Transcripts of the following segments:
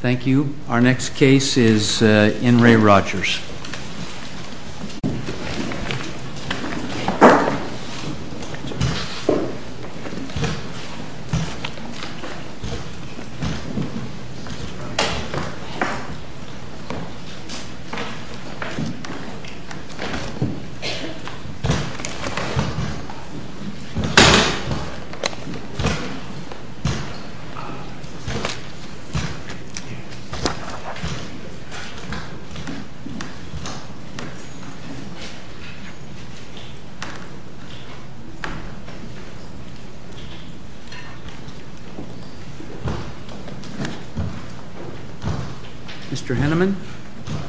Thank you. Our next case is In Re Rogers. Mr. Hennemann? LARRY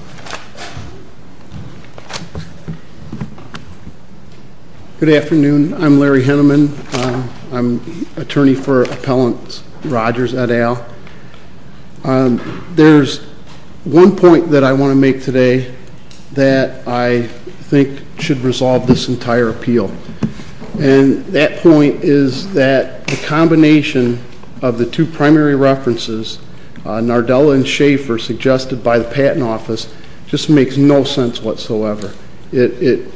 HENNEMANN Good afternoon. I'm Larry Hennemann. I'm an attorney for Appellant Rogers et al. There's one point that I want to make today that I think should resolve this entire appeal. And that point is that the combination of the two primary references, Nardella and Schaefer, suggested by the Patent Office, just makes no sense whatsoever. It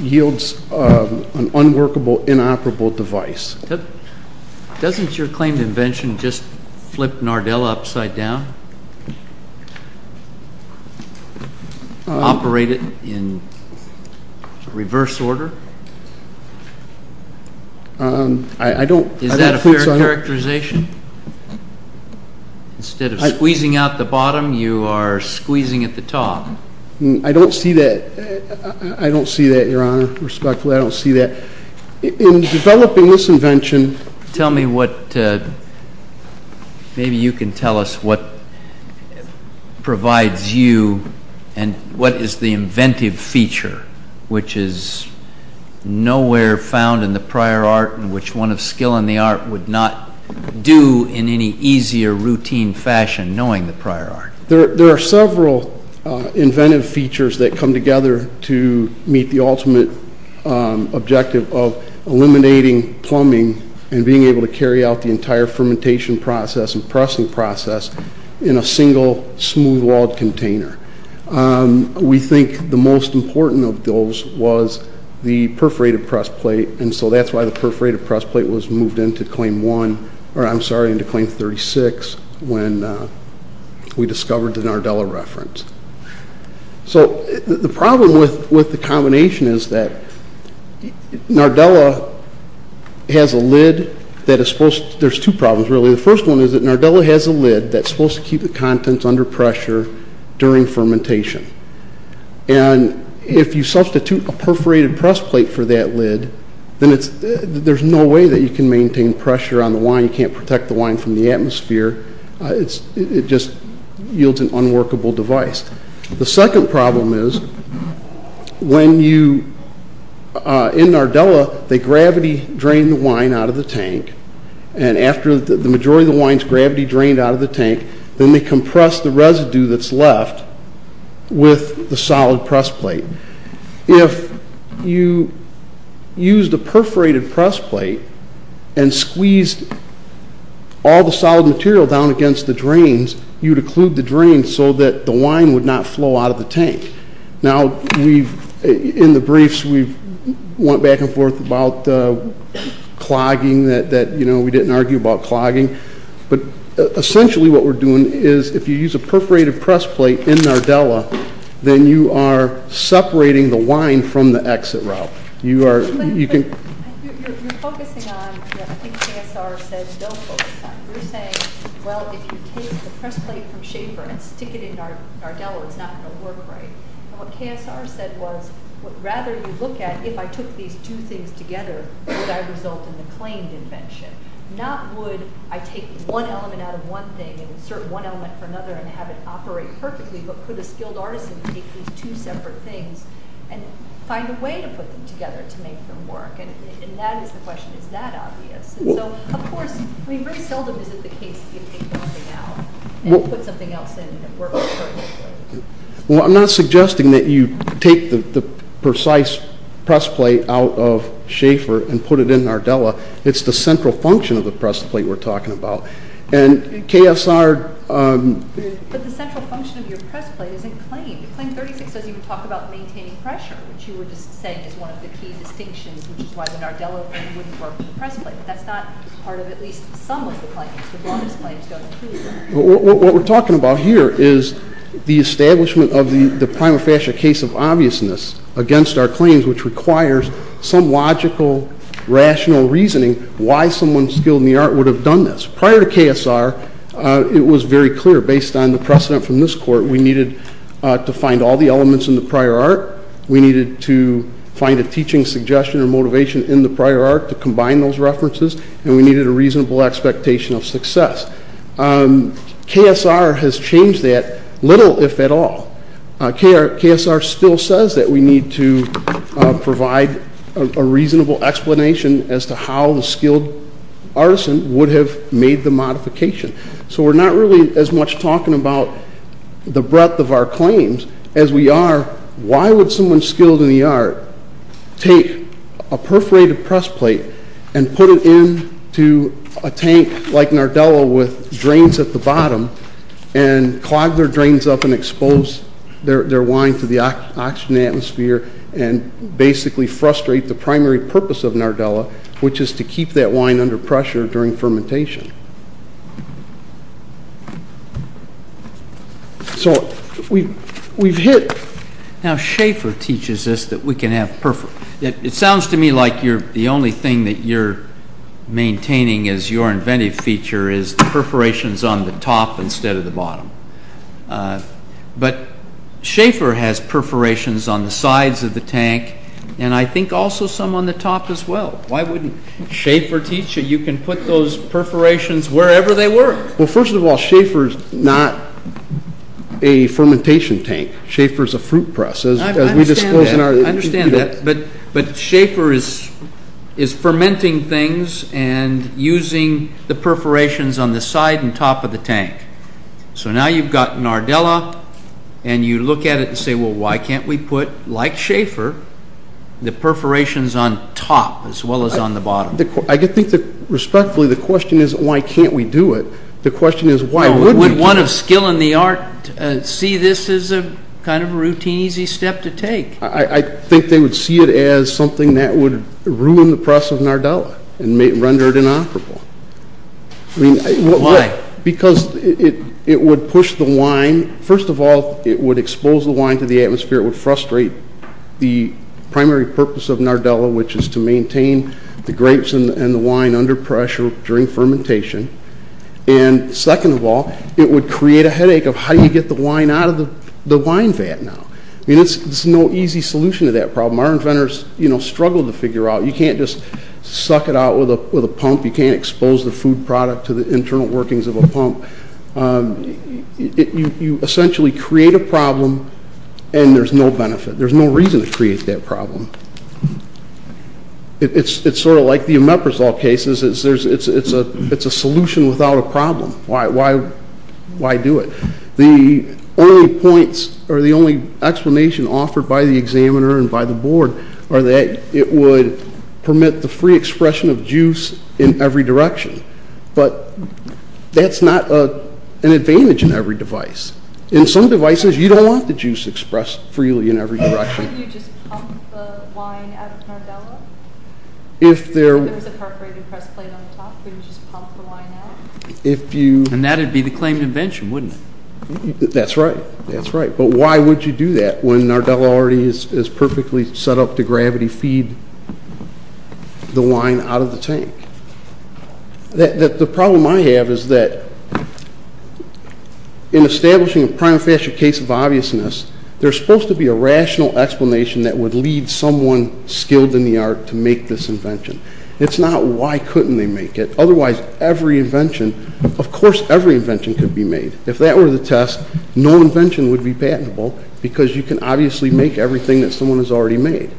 yields an unworkable, inoperable device. JUSTICE SCALIA Doesn't your claimed invention just flip Nardella upside down, operate it in reverse order? Is that a fair characterization? Instead of squeezing out the bottom, you are squeezing at the top. HENNEMANN I don't see that, I don't see that, Your Honor. Respectfully, I don't see that. In developing this invention, JUSTICE SCALIA Tell me what, maybe you can tell us what provides you and what is the inventive feature, which is nowhere found in the prior art and which one of skill in the art would not do in any easier routine fashion, knowing the prior art. HENNEMANN There are several inventive features that come together to meet the ultimate objective of eliminating plumbing and being able to carry out the entire fermentation process and pressing process in a single smooth-walled container. We think the most important of those was the perforated press plate, and so that's why the perforated press plate was moved into Claim 1, or I'm sorry, into Claim 36 when we discovered the Nardella reference. So the problem with the combination is that Nardella has a lid that is supposed to, there's two problems really. The first one is that Nardella has a lid that's supposed to keep the contents under pressure during fermentation, and if you substitute a perforated press plate for that lid, then there's no way that you can maintain pressure on the wine, you can't protect the wine from the atmosphere, it just yields an unworkable device. The second problem is when you, in Nardella, they gravity drain the wine out of the tank, and after the majority of the wine is gravity drained out of the tank, then they compress the residue that's left with the solid press plate. If you used a perforated press plate and squeezed all the solid material down against the drains, you'd occlude the drains so that the wine would not flow out of the tank. Now we've, in the briefs, we've went back and forth about clogging, that we didn't argue about clogging, but essentially what we're doing is if you use a perforated press plate in Nardella, then you are separating the wine from the exit route. You are, you can... You're focusing on, I think KSR says don't focus on it. You're saying, well, if you take the press plate from Schaefer and stick it in Nardella, it's not going to work right. And what KSR said was, rather you look at, if I took these two things together, would I result in the claimed invention? Not would I take one element out of one thing and insert one element for another and have it operate perfectly, but could a skilled artisan take these two separate things and find a way to put them together to make them work? And that is the question. Is that obvious? And so, of course, I mean, very seldom is it the case that you take one thing out and put something else in and it works perfectly. Well, I'm not suggesting that you take the precise press plate out of Schaefer and put it in Nardella. It's the central function of the press plate we're talking about. And KSR... But the central function of your press plate isn't claimed. Claim 36 says you can talk about maintaining pressure, which you were just saying is one of the key distinctions, which is why the Nardella thing wouldn't work with the press plate. That's not part of at least some of the claims. The longest claims don't include... What we're talking about here is the establishment of the prima facie case of obviousness against our claims, which requires some logical rational reasoning why someone skilled in the art would have done this. Prior to KSR, it was very clear, based on the precedent from this court, we needed to find all the elements in the prior art, we needed to find a teaching suggestion or motivation in the prior art to combine those references, and we needed a reasonable expectation of success. KSR has changed that little, if at all. KSR still says that we need to provide a reasonable explanation as to how the skilled artisan would have made the modification. So we're not really as much talking about the breadth of our claims as we are why would someone skilled in the art take a perforated press plate and put it into a tank like Nardella with drains at the bottom and clog their drains up and expose their wine to the oxygen atmosphere and basically frustrate the primary purpose of Nardella, which is to keep that wine under pressure during fermentation. So we've hit... Now Schaefer teaches us that we can have... It sounds to me like the only thing that you're maintaining as your inventive feature is perforations on the top instead of the bottom. But Schaefer has perforations on the sides of the tank and I think also some on the top as well. Why wouldn't Schaefer teach you? You can put those perforations wherever they were. Well, first of all, Schaefer's not a fermentation tank. Schaefer's a fruit press. I understand that. But Schaefer is fermenting things and using the perforations on the side and top of the tank. So now you've got Nardella and you look at it and say, well, why can't we put, like Schaefer, the perforations on top as well as on the bottom? I think that respectfully, the question isn't why can't we do it? The question is why would we do it? Would one of skill in the art see this as a kind of routine, easy step to take? I think they would see it as something that would ruin the press of Nardella and render it inoperable. Why? Because it would push the wine. First of all, it would expose the wine to the atmosphere, it would frustrate the primary purpose of Nardella, which is to maintain the grapes and the wine under pressure during fermentation. And second of all, it would create a headache of how do you get the wine out of the wine vat now? I mean, there's no easy solution to that problem. Our inventors struggled to figure out. You can't just suck it out with a pump. You can't expose the food product to the internal workings of a pump. You essentially create a problem and there's no benefit. There's no reason to create that problem. It's sort of like the Omeprazole cases. It's a solution without a problem. Why do it? The only points or the only explanation offered by the examiner and by the board are that it would permit the free expression of juice in every direction. But that's not an advantage in every device. In some devices, you don't want the juice expressed freely in every direction. Can't you just pump the wine out of Nardella? If there was a perforated press plate on the top, would you just pump the wine out? And that would be the claimed invention, wouldn't it? That's right. That's right. But why would you do that when Nardella already is perfectly set up to gravity feed the wine out of the tank? The problem I have is that in establishing a prima facie case of obviousness, there's supposed to be a rational explanation that would lead someone skilled in the art to make this invention. It's not why couldn't they make it? Otherwise, every invention, of course every invention could be made. If that were the test, no invention would be patentable because you can obviously make everything that someone has already made.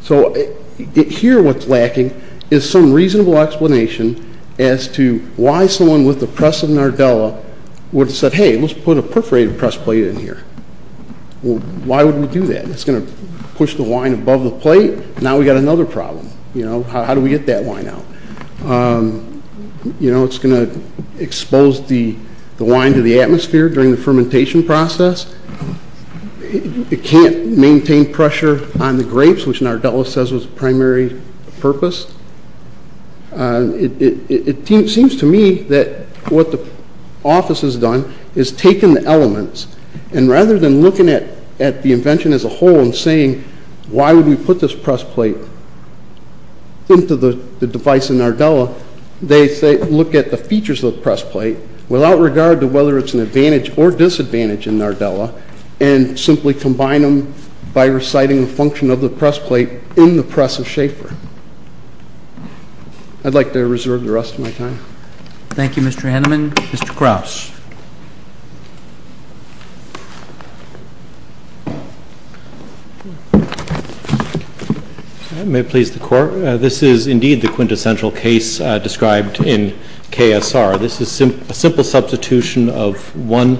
So here what's lacking is some reasonable explanation as to why someone with the press of Nardella would have said, hey, let's put a perforated press plate in here. Why would we do that? It's going to push the wine above the plate. Now we've got another problem. How do we get that wine out? It's going to expose the wine to the atmosphere during the fermentation process. It can't maintain pressure on the grapes, which Nardella says was the primary purpose. It seems to me that what the office has done is taken the elements and rather than looking at the invention as a whole and saying, why would we put this press plate into the device of Nardella, they look at the features of the press plate without regard to whether it's an advantage or disadvantage in Nardella and simply combine them by reciting the function of the press plate in the press of Schaefer. I'd like to reserve the rest of my time. Thank you, Mr. Henneman. Mr. Krause. May it please the court. This is indeed the quintessential case described in KSR. This is a simple substitution of one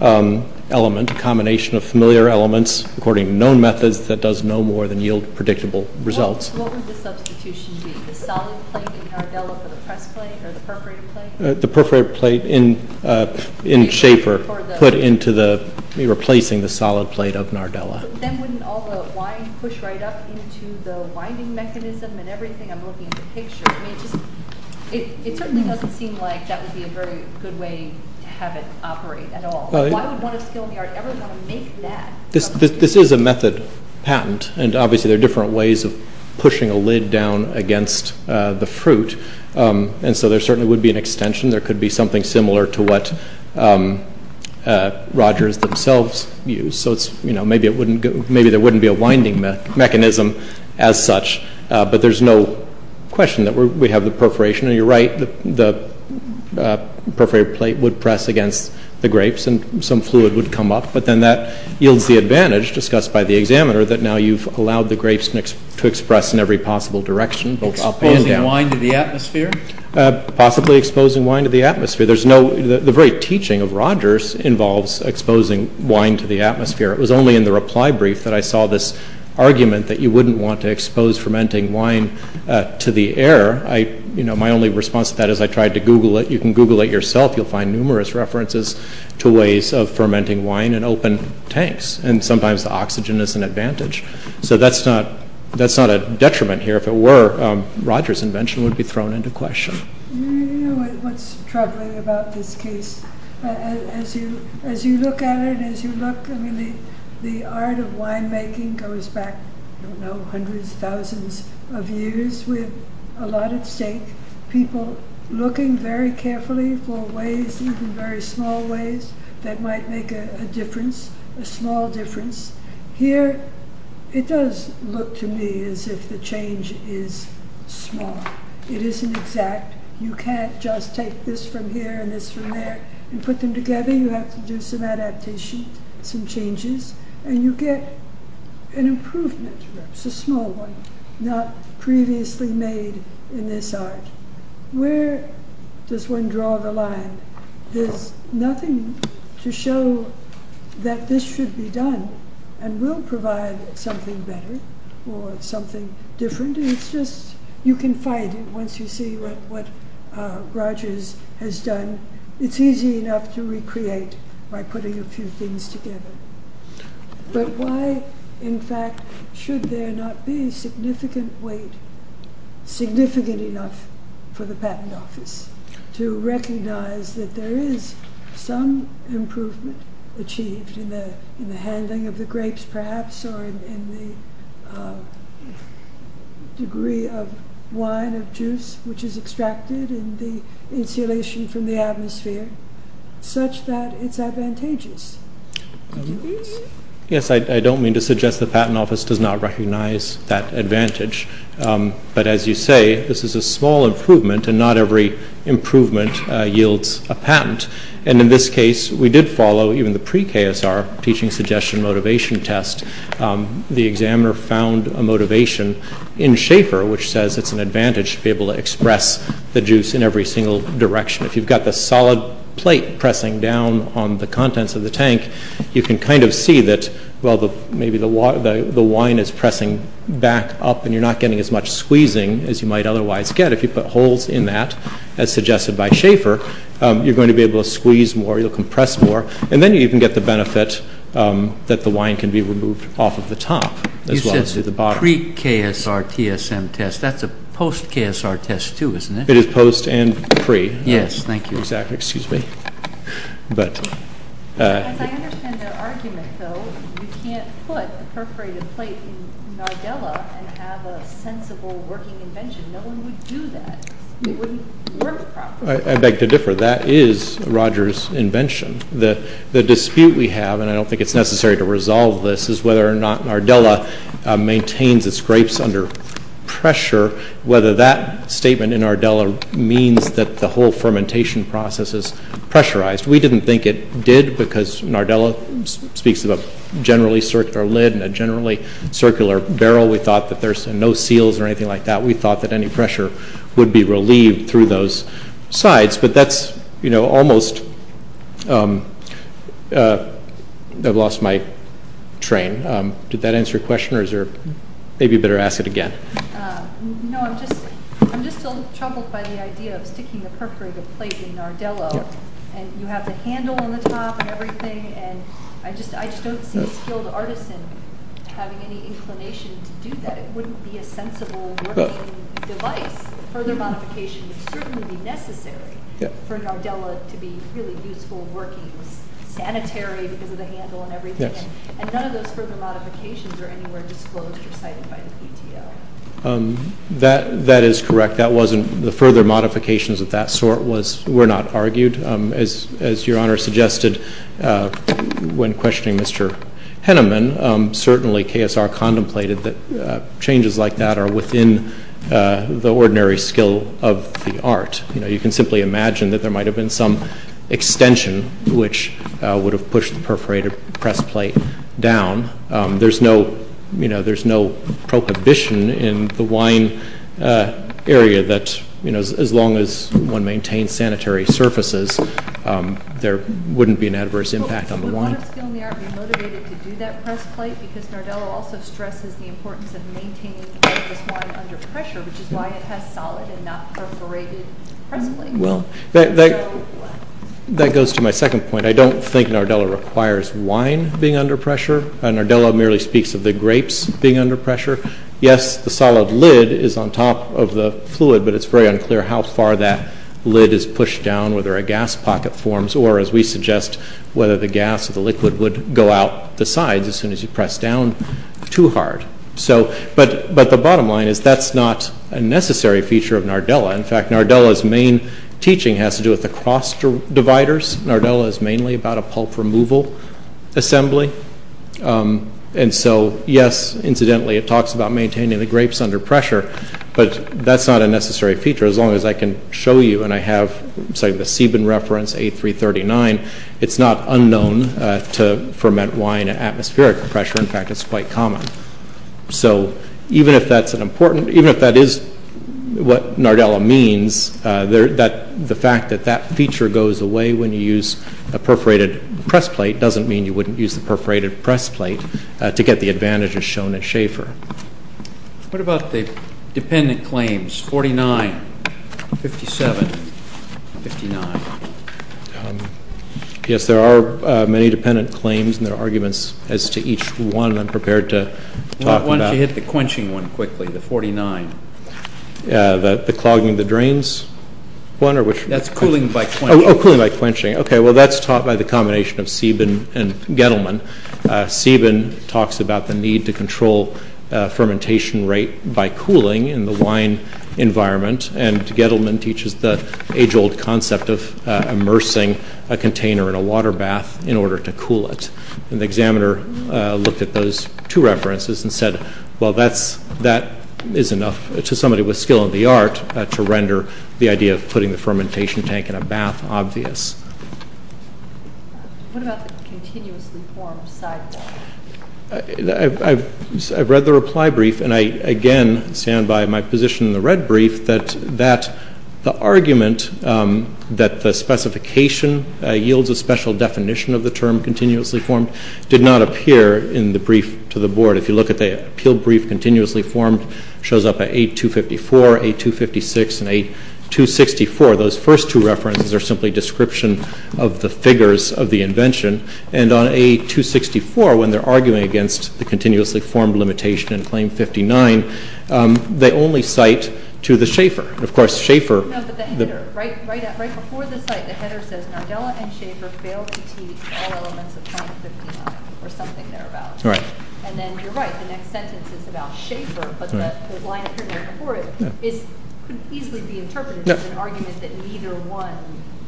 element, a combination of familiar elements according to known methods that does no more than yield predictable results. What would the substitution be? The solid plate in Nardella for the press plate or the perforated plate? The perforated plate in Schaefer put into the, replacing the solid plate of Nardella. Then wouldn't all the wine push right up into the winding mechanism and everything I'm looking at in the picture? I mean, it certainly doesn't seem like that would be a very good way to have it operate at all. Why would one of skill in the art ever want to make that? This is a method patent and obviously there are different ways of pushing a lid down against the fruit. And so there certainly would be an extension. There could be something similar to what Rogers themselves use. So it's, you know, maybe it wouldn't go, maybe there wouldn't be a winding mechanism as such. But there's no question that we have the perforation and you're right, the perforated plate would press against the grapes and some fluid would come up. But then that yields the advantage discussed by the examiner that now you've allowed the Possibly exposing wine to the atmosphere? Possibly exposing wine to the atmosphere. There's no, the very teaching of Rogers involves exposing wine to the atmosphere. It was only in the reply brief that I saw this argument that you wouldn't want to expose fermenting wine to the air. I, you know, my only response to that is I tried to Google it. You can Google it yourself. You'll find numerous references to ways of fermenting wine in open tanks. And sometimes the oxygen is an advantage. So that's not, that's not a detriment here, if it were, Rogers invention would be thrown into question. You know what's troubling about this case? As you, as you look at it, as you look, I mean, the art of winemaking goes back, I don't know, hundreds, thousands of years with a lot at stake, people looking very carefully for ways, even very small ways that might make a difference, a small difference. Here, it does look to me as if the change is small. It isn't exact. You can't just take this from here and this from there and put them together. You have to do some adaptation, some changes, and you get an improvement. It's a small one, not previously made in this art. Where does one draw the line? There's nothing to show that this should be done and will provide something better or something different. And it's just, you can fight it once you see what, what Rogers has done. It's easy enough to recreate by putting a few things together, but why, in fact, should there not be significant weight, significant enough for the patent office to recognize that there is some improvement achieved in the, in the handling of the grapes perhaps or in the degree of wine, of juice, which is extracted in the insulation from the atmosphere, such that it's advantageous? Yes, I don't mean to suggest the patent office does not recognize that advantage. But as you say, this is a small improvement and not every improvement yields a patent. And in this case, we did follow even the pre-KSR teaching suggestion motivation test. The examiner found a motivation in Schaefer, which says it's an advantage to be able to express the juice in every single direction. If you've got the solid plate pressing down on the contents of the tank, you can kind of see that, well, maybe the wine is pressing back up and you're not getting as much squeezing as you might otherwise get. If you put holes in that, as suggested by Schaefer, you're going to be able to squeeze more, you'll compress more, and then you can get the benefit that the wine can be removed off of the top as well as through the bottom. You said pre-KSR TSM test. That's a post-KSR test too, isn't it? It is post and pre. Yes, thank you. Exactly. Excuse me. As I understand their argument, though, you can't put a perforated plate in Nardella and have a sensible working invention. No one would do that. It wouldn't work properly. I beg to differ. That is Rogers' invention. The dispute we have, and I don't think it's necessary to resolve this, is whether or not Nardella maintains its grapes under pressure, whether that statement in Nardella means that the whole fermentation process is pressurized. We didn't think it did because Nardella speaks of a generally circular lid and a generally circular barrel. We thought that there's no seals or anything like that. We thought that any pressure would be relieved through those sides, but that's almost... I've lost my train. Did that answer your question, or is there... Maybe you better ask it again. No, I'm just a little troubled by the idea of sticking a perforated plate in Nardella, and you have the handle on the top and everything, and I just don't see a skilled artisan having any inclination to do that. It wouldn't be a sensible working device. Further modification would certainly be necessary for Nardella to be really useful, working, sanitary because of the handle and everything, and none of those further modifications are anywhere disclosed or cited by the PTO. That is correct. That wasn't... The further modifications of that sort were not argued. As Your Honor suggested when questioning Mr. Henneman, certainly KSR contemplated that changes like that are within the ordinary skill of the art. You can simply imagine that there might have been some extension which would have pushed the perforated press plate down. There's no prohibition in the wine area that as long as one maintains sanitary surfaces, there wouldn't be an adverse impact on the wine. Would a lot of skill in the art be motivated to do that press plate because Nardella also stresses the importance of maintaining this wine under pressure, which is why it has solid and not perforated press plates. Well, that goes to my second point. I don't think Nardella requires wine being under pressure. Nardella merely speaks of the grapes being under pressure. Yes, the solid lid is on top of the fluid, but it's very unclear how far that lid is pushed down, whether a gas pocket forms or, as we suggest, whether the gas or the liquid would go out the sides as soon as you press down too hard. But the bottom line is that's not a necessary feature of Nardella. In fact, Nardella's main teaching has to do with the cross dividers. Nardella is mainly about a pulp removal assembly. And so, yes, incidentally it talks about maintaining the grapes under pressure, but that's not a necessary feature as long as I can show you and I have the Sieben reference, A339. It's not unknown to ferment wine at atmospheric pressure. In fact, it's quite common. So even if that's an important, even if that is what Nardella means, the fact that that feature goes away when you use a perforated press plate doesn't mean you wouldn't use the perforated press plate to get the advantages shown at Schaefer. What about the dependent claims, 49, 57, 59? Yes, there are many dependent claims, and there are arguments as to each one I'm prepared to talk about. Why don't you hit the quenching one quickly, the 49? The clogging the drains one, or which one? That's cooling by quenching. Oh, cooling by quenching. Okay, well, that's taught by the combination of Sieben and Gettleman. Sieben talks about the need to control fermentation rate by cooling in the wine environment, and Gettleman teaches the age-old concept of immersing a container in a water bath in order to cool it. And the examiner looked at those two references and said, well, that is enough to somebody with skill in the art to render the idea of putting the fermentation tank in a bath obvious. What about the continuously formed sidewalk? I've read the reply brief, and I, again, stand by my position in the red brief, that the argument that the specification yields a special definition of the term continuously formed did not appear in the brief to the Board. If you look at the appeal brief, continuously formed shows up at 8.254, 8.256, and 8.264. Those first two references are simply description of the figures of the invention, and on 8.264, when they're arguing against the continuously formed limitation in Claim 59, they only cite to the Schaeffer. Of course, Schaeffer— No, but the header. Right before the site, the header says, Nardella and Schaeffer failed to teach all elements of Claim 59, or something thereabout. And then you're right, the next sentence is about Schaeffer, but the line appearing before it could easily be interpreted as an argument that neither one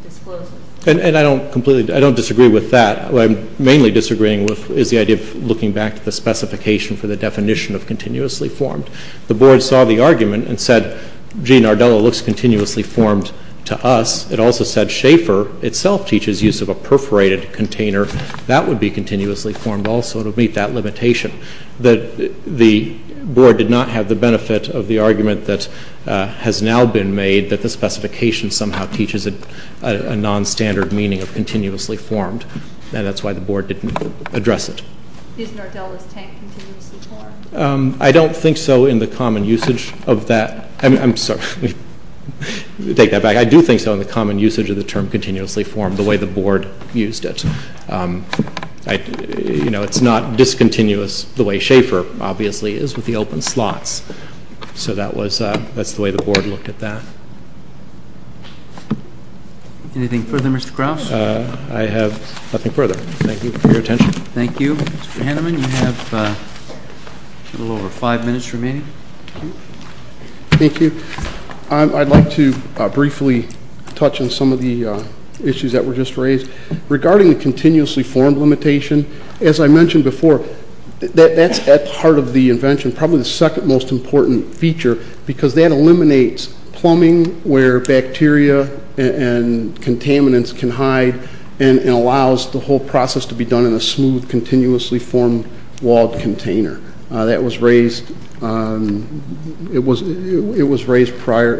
discloses. And I don't completely—I don't disagree with that. What I'm mainly disagreeing with is the idea of looking back to the specification for the definition of continuously formed. The Board saw the argument and said, gee, Nardella looks continuously formed to us. It also said Schaeffer itself teaches use of a perforated container. That would be continuously formed also to meet that limitation. The Board did not have the benefit of the argument that has now been made that the specification somehow teaches a nonstandard meaning of continuously formed, and that's why the Board didn't address it. Is Nardella's tank continuously formed? I don't think so in the common usage of that. I'm sorry. Take that back. I do think so in the common usage of the term continuously formed, the way the Board used it. You know, it's not discontinuous the way Schaeffer obviously is with the open slots. So that's the way the Board looked at that. Anything further, Mr. Krauss? I have nothing further. Thank you for your attention. Thank you. Mr. Haneman, you have a little over five minutes remaining. Thank you. I'd like to briefly touch on some of the issues that were just raised. Regarding the continuously formed limitation, as I mentioned before, that's at the heart of the invention, probably the second most important feature, because that eliminates plumbing where bacteria and contaminants can hide and allows the whole process to be done in a smooth, continuously formed walled container. That was raised in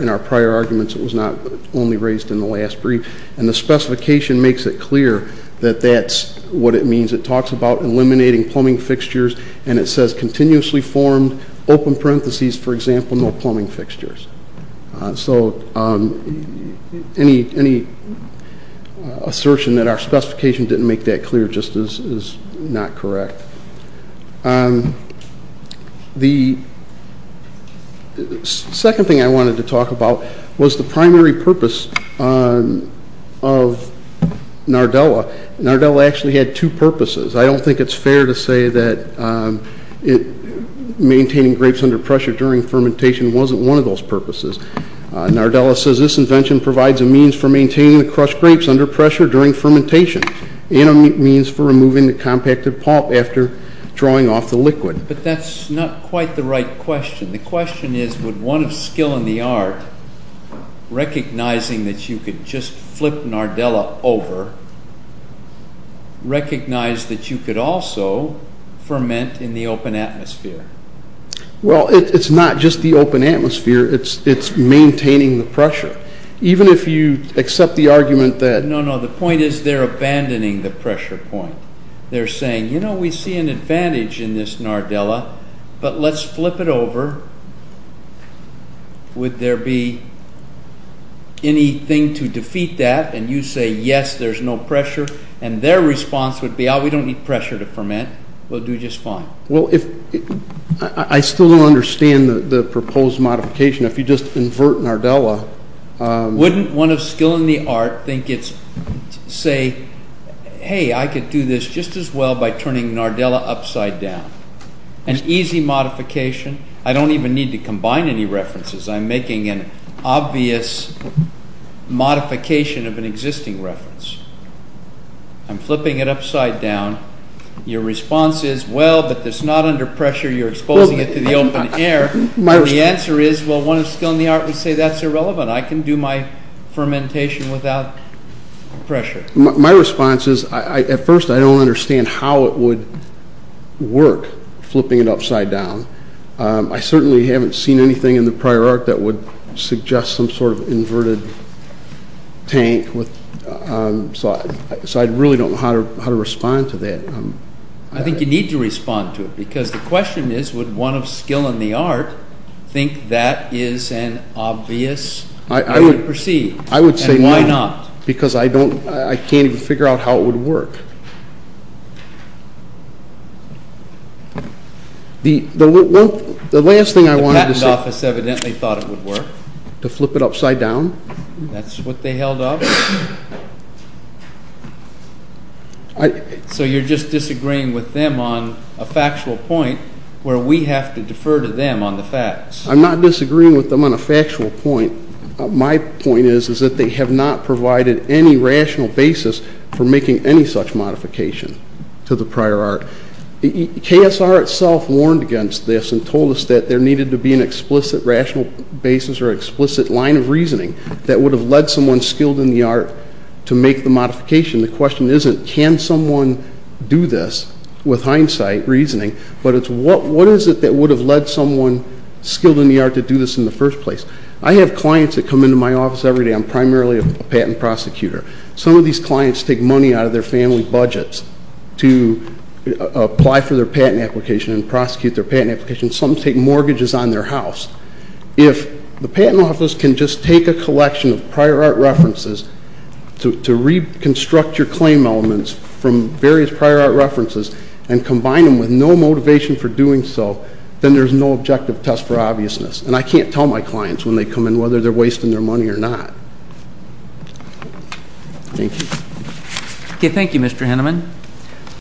our prior arguments. It was not only raised in the last brief. And the specification makes it clear that that's what it means. It talks about eliminating plumbing fixtures, and it says, continuously formed, open parentheses, for example, no plumbing fixtures. So any assertion that our specification didn't make that clear just is not correct. The second thing I wanted to talk about was the primary purpose of Nardella. Nardella actually had two purposes. I don't think it's fair to say that maintaining grapes under pressure during fermentation wasn't one of those purposes. Nardella says this invention provides a means for maintaining the crushed grapes under pressure during fermentation and a means for removing the compacted pulp after drawing off the liquid. But that's not quite the right question. The question is, would one of skill in the art, recognizing that you could just flip Nardella over, recognize that you could also ferment in the open atmosphere? Well, it's not just the open atmosphere. It's maintaining the pressure. Even if you accept the argument that— No, no, the point is they're abandoning the pressure point. They're saying, you know, we see an advantage in this Nardella, but let's flip it over. Would there be anything to defeat that? And you say, yes, there's no pressure. And their response would be, oh, we don't need pressure to ferment. We'll do just fine. Well, I still don't understand the proposed modification. If you just invert Nardella— Wouldn't one of skill in the art think it's—say, hey, I could do this just as well by turning Nardella upside down, an easy modification. I don't even need to combine any references. I'm making an obvious modification of an existing reference. I'm flipping it upside down. Your response is, well, but it's not under pressure. You're exposing it to the open air. The answer is, well, one of skill in the art would say that's irrelevant. I can do my fermentation without pressure. My response is, at first, I don't understand how it would work, flipping it upside down. I certainly haven't seen anything in the prior art that would suggest some sort of inverted tank. So I really don't know how to respond to that. I think you need to respond to it because the question is, would one of skill in the art think that is an obvious way to proceed, and why not? Because I can't even figure out how it would work. The last thing I wanted to say— The patent office evidently thought it would work. To flip it upside down. That's what they held up. So you're just disagreeing with them on a factual point where we have to defer to them on the facts. I'm not disagreeing with them on a factual point. My point is that they have not provided any rational basis for making any such modification to the prior art. KSR itself warned against this and told us that there needed to be an explicit rational basis or explicit line of reasoning that would have led someone skilled in the art to make the modification. The question isn't can someone do this with hindsight, reasoning, but it's what is it that would have led someone skilled in the art to do this in the first place. I have clients that come into my office every day. I'm primarily a patent prosecutor. Some of these clients take money out of their family budgets to apply for their patent application and prosecute their patent application. Some take mortgages on their house. If the patent office can just take a collection of prior art references to reconstruct your claim elements from various prior art references and combine them with no motivation for doing so, then there's no objective test for obviousness. And I can't tell my clients when they come in whether they're wasting their money or not. Thank you. Okay. Thank you, Mr. Henneman.